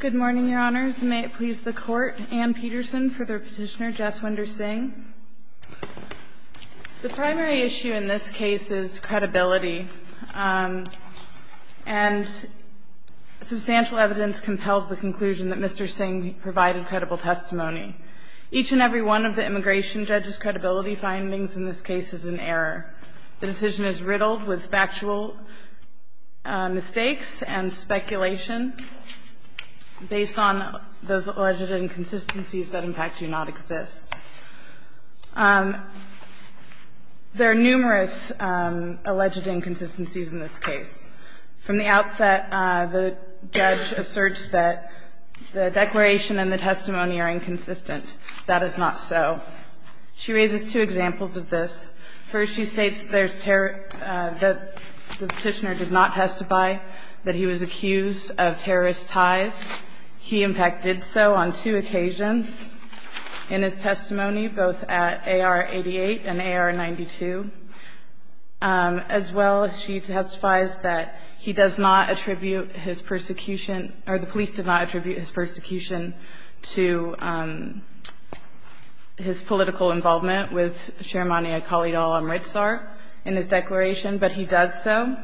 Good morning, your honors. May it please the court, Anne Peterson for the petitioner Jesswinder Singh. The primary issue in this case is credibility. And substantial evidence compels the conclusion that Mr. Singh provided credible testimony. Each and every one of the immigration judge's credibility findings in this case is an error. The decision is riddled with factual mistakes and speculation based on those alleged inconsistencies that, in fact, do not exist. There are numerous alleged inconsistencies in this case. From the outset, the judge asserts that the declaration and the testimony are inconsistent. That is not so. She raises two examples of this. First, she states that the petitioner did not testify that he was accused of terrorist ties. He, in fact, did so on two occasions in his testimony, both at AR-88 and AR-92. As well, she testifies that he does not attribute his persecution, or the police did not attribute his persecution, to his political involvement with Sharmania Khalid al-Amritsar in his declaration, but he does so.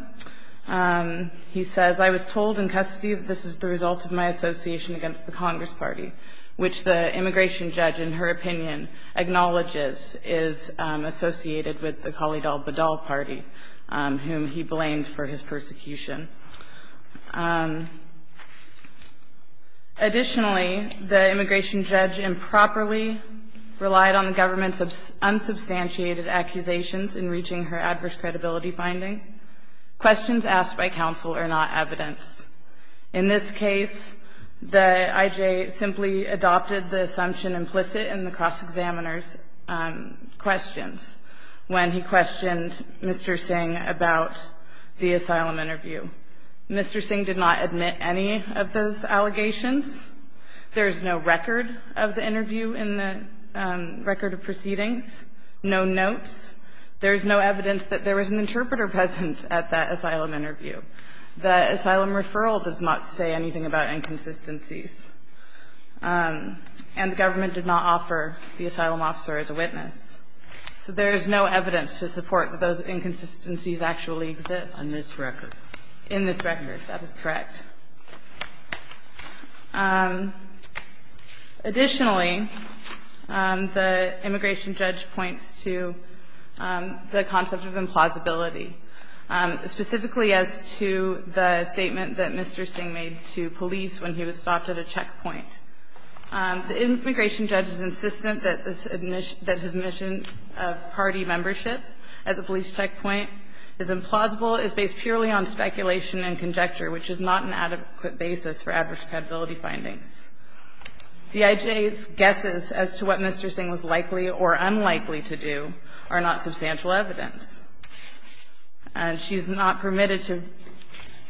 He says, I was told in custody that this is the result of my association against the Congress Party, which the immigration judge, in her opinion, acknowledges is associated with the Khalid al-Badal Party, whom he blamed for his persecution. Additionally, the immigration judge improperly relied on the government's unsubstantiated accusations in reaching her adverse credibility finding. Questions asked by counsel are not evidence. In this case, the I.J. simply adopted the assumption implicit in the cross-examiner's questions when he questioned Mr. Singh about the asylum interview. Mr. Singh did not admit any of those allegations. There is no record of the interview in the record of proceedings, no notes. There is no evidence that there was an interpreter present at that asylum interview. The asylum referral does not say anything about inconsistencies. And the government did not offer the asylum officer as a witness. So there is no evidence to support that those inconsistencies actually exist. In this record. In this record. That is correct. Additionally, the immigration judge points to the concept of implausibility, specifically as to the statement that Mr. Singh made to police when he was stopped at a checkpoint. The immigration judge is insistent that his admission of party membership at the police checkpoint is implausible, is based purely on speculation and conjecture, which is not an adequate basis for adverse credibility findings. The I.J.'s guesses as to what Mr. Singh was likely or unlikely to do are not substantial evidence. And she's not permitted to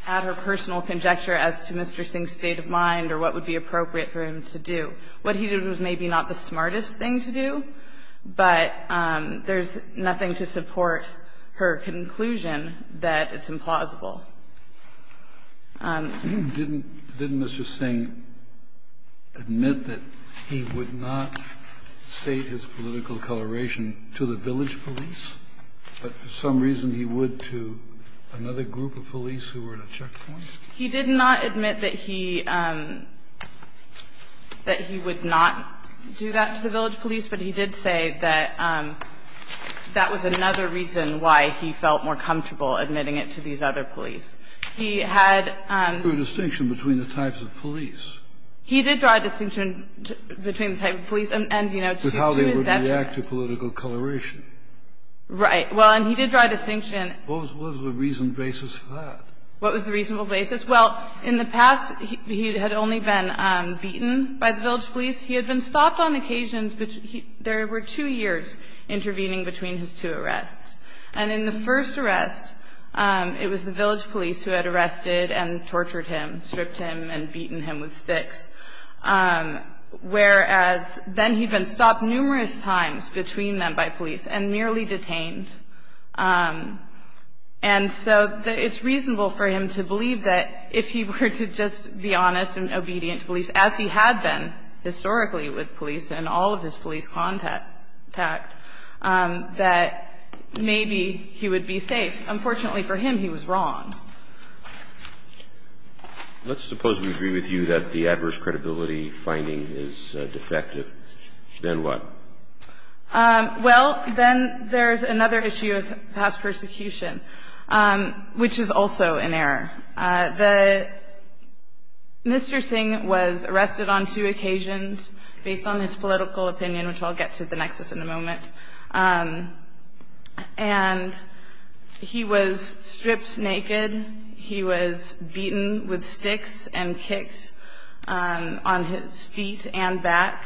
add her personal conjecture as to Mr. Singh's state of mind or what would be appropriate for him to do. What he did was maybe not the smartest thing to do, but there's nothing to support her conclusion that it's implausible. Kennedy, didn't Mr. Singh admit that he would not state his political coloration to the village police, but for some reason he would to another group of police who were at a checkpoint? He did not admit that he that he would not do that to the village police, but he did say that that was another reason why he felt more comfortable admitting it to these other police. He had a distinction between the types of police. He did draw a distinction between the type of police and, you know, to his definition. But how they would react to political coloration. Right. Well, and he did draw a distinction. What was the reason basis for that? What was the reasonable basis? Well, in the past, he had only been beaten by the village police. He had been stopped on occasions. There were two years intervening between his two arrests. And in the first arrest, it was the village police who had arrested and tortured him, stripped him and beaten him with sticks, whereas then he'd been stopped numerous times between them by police and merely detained. And so it's reasonable for him to believe that if he were to just be honest and obedient to police, as he had been historically with police and all of his police contact, that maybe he would be safe. Unfortunately for him, he was wrong. Let's suppose we agree with you that the adverse credibility finding is defective. Then what? Well, then there's another issue of house persecution, which is also an error. Mr. Singh was arrested on two occasions based on his political opinion, which I'll get to at the nexus in a moment. And he was stripped naked. He was beaten with sticks and kicked on his feet and back,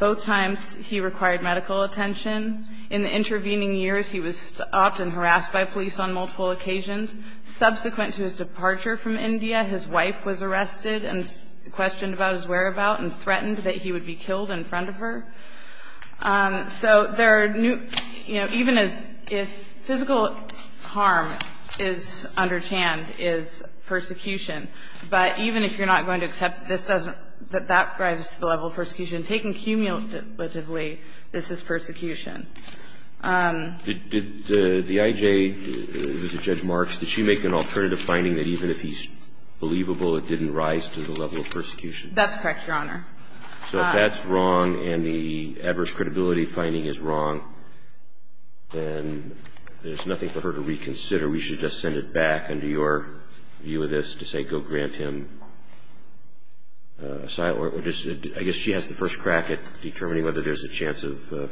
both times. He required medical attention. In the intervening years, he was stopped and harassed by police on multiple occasions. Subsequent to his departure from India, his wife was arrested and questioned about his whereabout and threatened that he would be killed in front of her. So there are new – you know, even as if physical harm is under Chand is persecution, but even if you're not going to accept this doesn't – that that rises to the level of persecution, taken cumulatively, this is persecution. Did the IJ, Judge Marks, did she make an alternative finding that even if he's believable, it didn't rise to the level of persecution? That's correct, Your Honor. So if that's wrong and the adverse credibility finding is wrong, then there's nothing for her to reconsider. We should just send it back under your view of this to say go grant him asylum or just – I guess she has the first crack at determining whether there's a chance of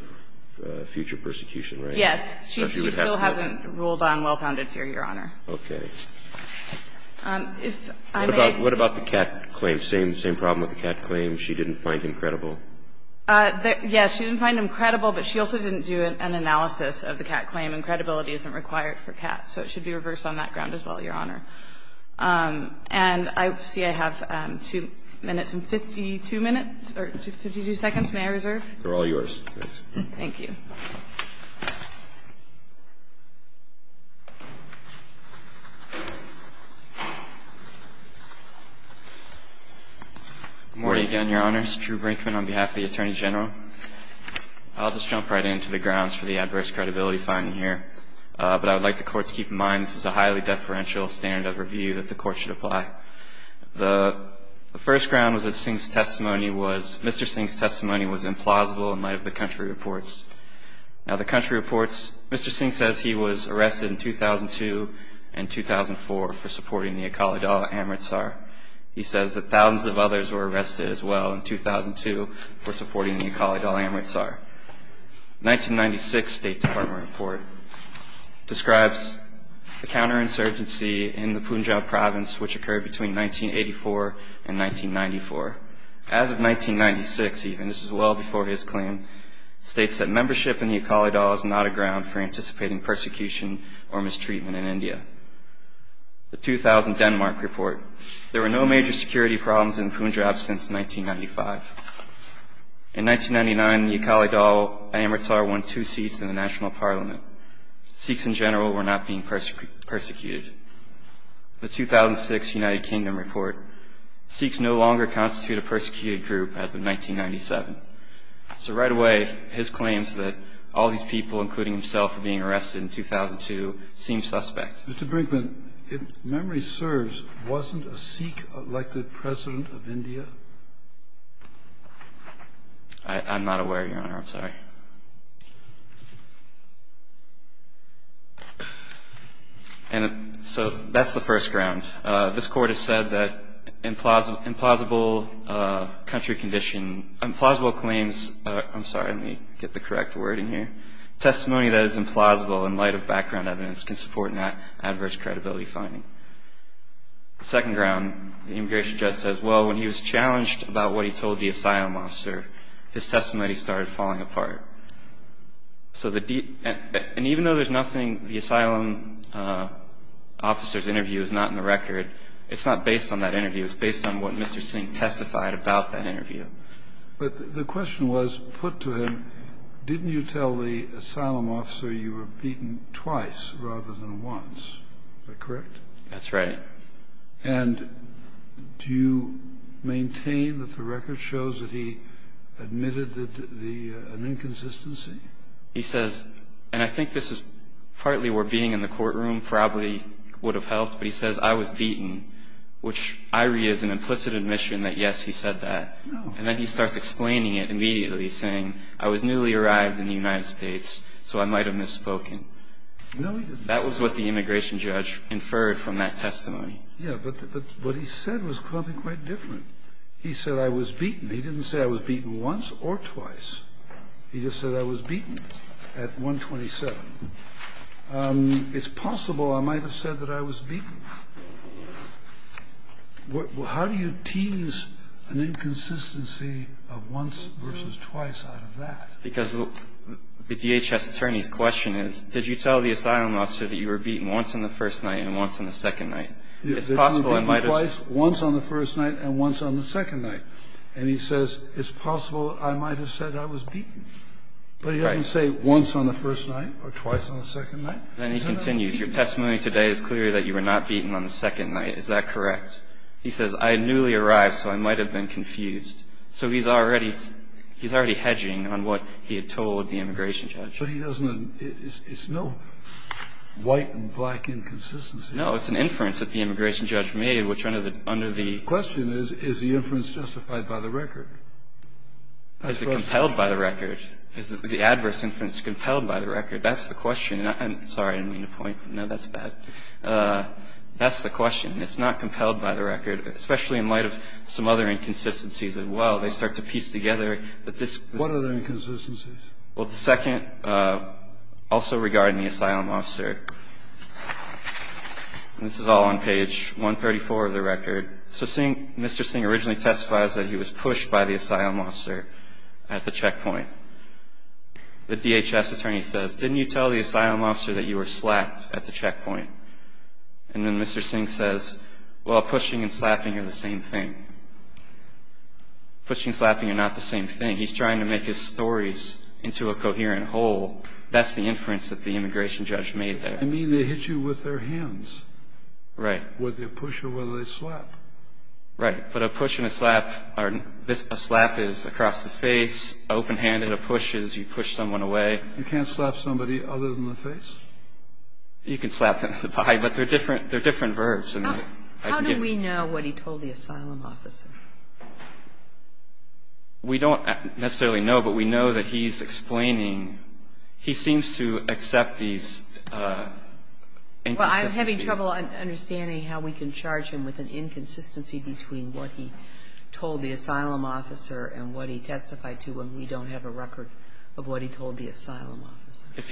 future persecution, right? Yes. She still hasn't ruled on well-founded fear, Your Honor. Okay. What about the Catt claim? Same problem with the Catt claim? She didn't find him credible? Yes. She didn't find him credible, but she also didn't do an analysis of the Catt claim, and credibility isn't required for Catt. So it should be reversed on that ground as well, Your Honor. And I see I have two minutes and 52 minutes or 52 seconds. May I reserve? They're all yours. Thank you. Good morning again, Your Honors. Drew Brinkman on behalf of the Attorney General. I'll just jump right into the grounds for the adverse credibility finding here. I would like the Court to keep in mind this is a highly deferential standard of review that the Court should apply. The first ground was that Singh's testimony was – Mr. Singh's testimony was implausible in light of the country reports. Now, the country reports – Mr. Singh says he was arrested in 2002 and 2004 for supporting the Eqali Dal Amritsar. He says that thousands of others were arrested as well in 2002 for supporting the Eqali Dal Amritsar. The 1996 State Department report describes the counterinsurgency in the Punjab province which occurred between 1984 and 1994. As of 1996 even, this is well before his claim, states that membership in the Eqali Dal is not a ground for anticipating persecution or mistreatment in India. The 2000 Denmark report, there were no major security problems in Punjab since 1995. In 1999, the Eqali Dal Amritsar won two seats in the national parliament. Sikhs in general were not being persecuted. The 2006 United Kingdom report, Sikhs no longer constitute a persecuted group as of 1997. So right away, his claims that all these people, including himself, were being arrested in 2002 seem suspect. Mr. Brinkman, if memory serves, wasn't a Sikh elected president of India? I'm not aware, Your Honor. I'm sorry. And so that's the first ground. This Court has said that implausible country condition – implausible claims – I'm sorry. Let me get the correct wording here. Testimony that is implausible in light of background evidence can support an adverse credibility finding. The second ground, the immigration judge says, well, when he was challenged about what he told the asylum officer, his testimony started falling apart. So the – and even though there's nothing, the asylum officer's interview is not in the record, it's not based on that interview. It's based on what Mr. Singh testified about that interview. But the question was put to him, didn't you tell the asylum officer you were beaten twice rather than once? Is that correct? That's right. And do you maintain that the record shows that he admitted an inconsistency? He says, and I think this is partly where being in the courtroom probably would have helped, but he says, I was beaten, which I read as an implicit admission that, yes, he said that. And then he starts explaining it immediately, saying, I was newly arrived in the United States, so I might have misspoken. No, he didn't. That was what the immigration judge inferred from that testimony. Yes, but what he said was probably quite different. He said I was beaten. He didn't say I was beaten once or twice. He just said I was beaten at 127. It's possible I might have said that I was beaten. How do you tease an inconsistency of once versus twice out of that? Because the DHS attorney's question is, did you tell the asylum officer that you were beaten once on the first night and once on the second night? It's possible I might have said that. Once on the first night and once on the second night. And he says, it's possible I might have said I was beaten. Right. But he doesn't say once on the first night or twice on the second night. Then he continues. Your testimony today is clear that you were not beaten on the second night. Is that correct? He says, I newly arrived, so I might have been confused. So he's already hedging on what he had told the immigration judge. But he doesn't – it's no white and black inconsistency. No, it's an inference that the immigration judge made, which under the – The question is, is the inference justified by the record? Is it compelled by the record? Is the adverse inference compelled by the record? That's the question. I'm sorry. I didn't mean to point. No, that's bad. That's the question. It's not compelled by the record, especially in light of some other inconsistencies as well. They start to piece together. What are the inconsistencies? Well, the second, also regarding the asylum officer. This is all on page 134 of the record. So seeing Mr. Singh originally testifies that he was pushed by the asylum officer at the checkpoint. The DHS attorney says, didn't you tell the asylum officer that you were slapped at the checkpoint? And then Mr. Singh says, well, pushing and slapping are the same thing. Pushing and slapping are not the same thing. He's trying to make his stories into a coherent whole. That's the inference that the immigration judge made there. You mean they hit you with their hands. Right. Whether they push or whether they slap. Right. But a push and a slap or a slap is across the face. An open hand and a push is you push someone away. You can't slap somebody other than the face? You can slap them in the body, but they're different verbs. How do we know what he told the asylum officer? We don't necessarily know, but we know that he's explaining. He seems to accept these inconsistencies. Well, I'm having trouble understanding how we can charge him with an inconsistency between what he told the asylum officer and what he testified to when we don't have a record of what he told the asylum officer. If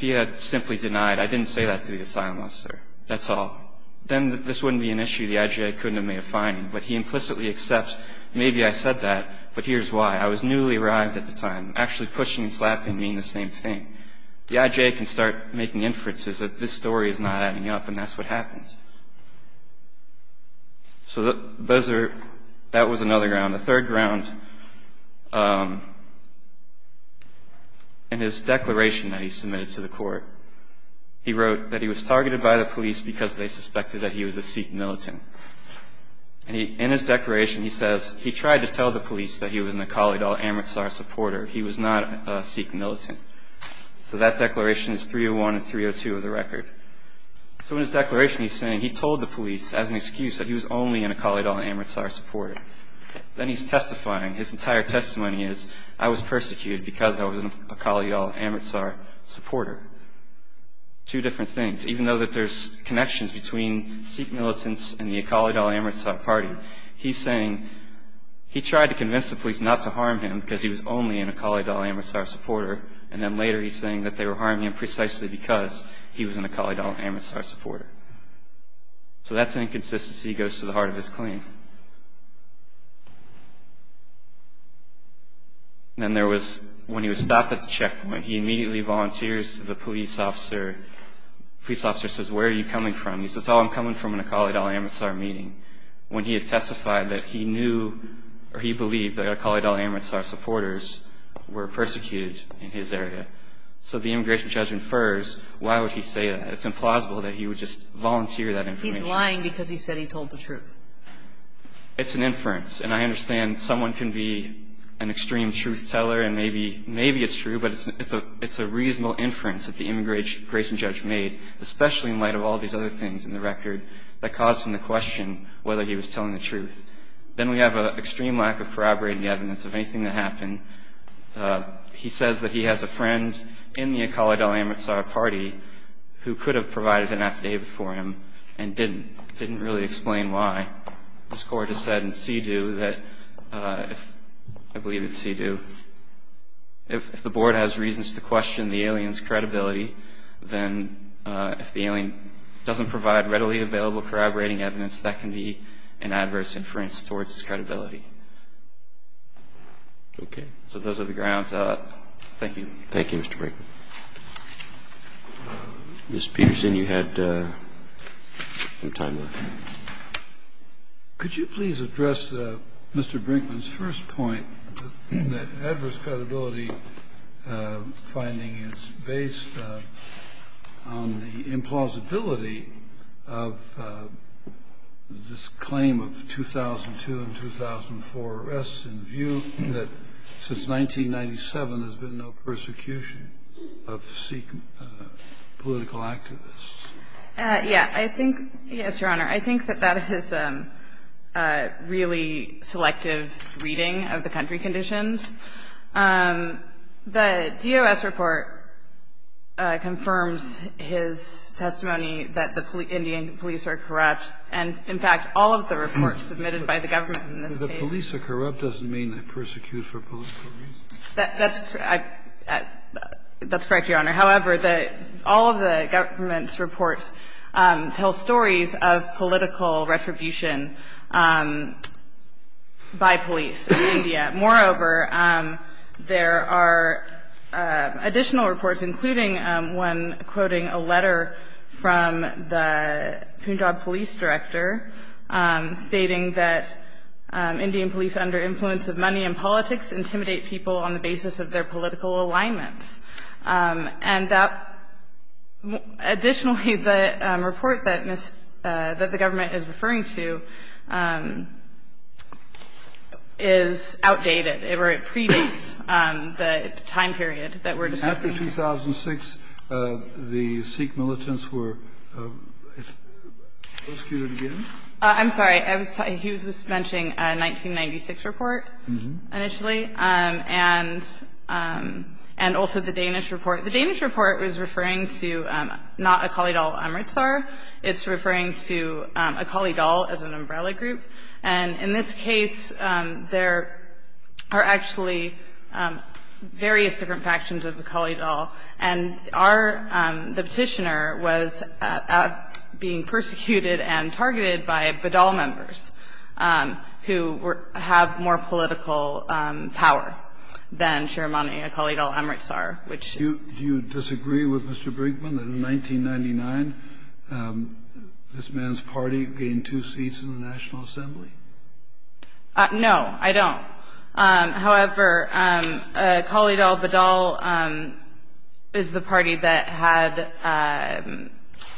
he had simply denied, I didn't say that to the asylum officer. That's all. Then this wouldn't be an issue the IJA couldn't have made a finding. But he implicitly accepts, maybe I said that, but here's why. I was newly arrived at the time. Actually pushing and slapping mean the same thing. The IJA can start making inferences that this story is not adding up, and that's what happens. So that was another ground. The third ground, in his declaration that he submitted to the court, he wrote that he was targeted by the police because they suspected that he was a Sikh militant. And in his declaration, he says he tried to tell the police that he was an Akali Dal Amritsar supporter. He was not a Sikh militant. So that declaration is 301 and 302 of the record. So in his declaration, he's saying he told the police as an excuse that he was only an Akali Dal Amritsar supporter. Then he's testifying. His entire testimony is, I was persecuted because I was an Akali Dal Amritsar supporter. Two different things. Even though that there's connections between Sikh militants and the Akali Dal Amritsar party, he's saying he tried to convince the police not to harm him because he was only an Akali Dal Amritsar supporter, and then later he's saying that they were harming him precisely because he was an Akali Dal Amritsar supporter. So that's an inconsistency that goes to the heart of his claim. Then there was, when he was stopped at the checkpoint, he immediately volunteers to the police officer. The police officer says, where are you coming from? He says, oh, I'm coming from an Akali Dal Amritsar meeting. When he had testified that he knew or he believed that Akali Dal Amritsar supporters were persecuted in his area. So the immigration judge infers. Why would he say that? It's implausible that he would just volunteer that information. He's lying because he said he told the truth. It's an inference, and I understand someone can be an extreme truth teller, and maybe it's true, but it's a reasonable inference that the immigration judge made, especially in light of all these other things in the record that caused him to question whether he was telling the truth. Then we have an extreme lack of corroborating evidence of anything that happened. He says that he has a friend in the Akali Dal Amritsar party who could have provided an affidavit for him and didn't. Didn't really explain why. This court has said in CEDU that, I believe it's CEDU, if the board has reasons to question the alien's credibility, then if the alien doesn't provide readily available corroborating evidence, that can be an adverse inference towards his credibility. Okay. So those are the grounds. Thank you. Thank you, Mr. Brinkman. Ms. Peterson, you had some time left. Could you please address Mr. Brinkman's first point, that adverse credibility finding is based on the implausibility of this claim of 2002 and 2004 arrests in view that since 1997 there's been no persecution of Sikh political activists? Yeah. I think, yes, Your Honor. I think that that is a really selective reading of the country conditions. The DOS report confirms his testimony that the Indian police are corrupt. And, in fact, all of the reports submitted by the government in this case. The police are corrupt doesn't mean they persecute for political reasons. That's correct, Your Honor. However, all of the government's reports tell stories of political retribution by police in India. Moreover, there are additional reports, including one quoting a letter from the Punjab police director stating that Indian police under influence of money and politics intimidate people on the basis of their political alignments. And that, additionally, the report that the government is referring to is outdated. It predates the time period that we're discussing here. After 2006, the Sikh militants were rescued again? I'm sorry. He was mentioning a 1996 report initially, and also the Danish report. The Danish report was referring to not Akali Dal Amritsar. It's referring to Akali Dal as an umbrella group. And in this case, there are actually various different factions of Akali Dal. And our the Petitioner was being persecuted and targeted by Badal members, who have more political power than Shiremani Akali Dal Amritsar, which is. Do you disagree with Mr. Brinkman that in 1999, this man's party gained two seats in the National Assembly? No, I don't. However, Akali Dal Badal is the party that had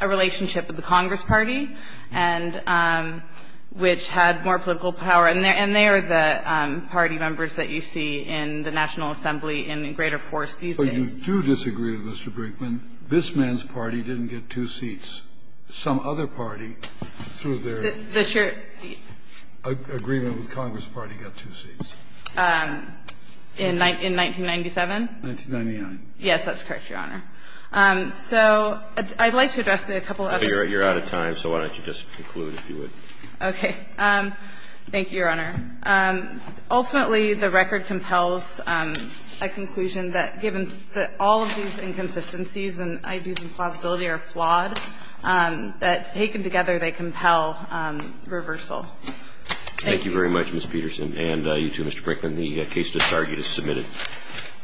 a relationship with the Congress Party, and which had more political power. And they are the party members that you see in the National Assembly and in greater force these days. But you do disagree with Mr. Brinkman, this man's party didn't get two seats. Some other party, through their agreement with Congress Party, got two seats. In 1997? 1999. Yes, that's correct, Your Honor. So I'd like to address a couple of other things. You're out of time, so why don't you just conclude, if you would. Okay. Thank you, Your Honor. Ultimately, the record compels a conclusion that given that all of these inconsistencies and ideas of plausibility are flawed, that taken together, they compel reversal. Thank you. Thank you very much, Ms. Peterson. And you too, Mr. Brinkman. The case to start is submitted.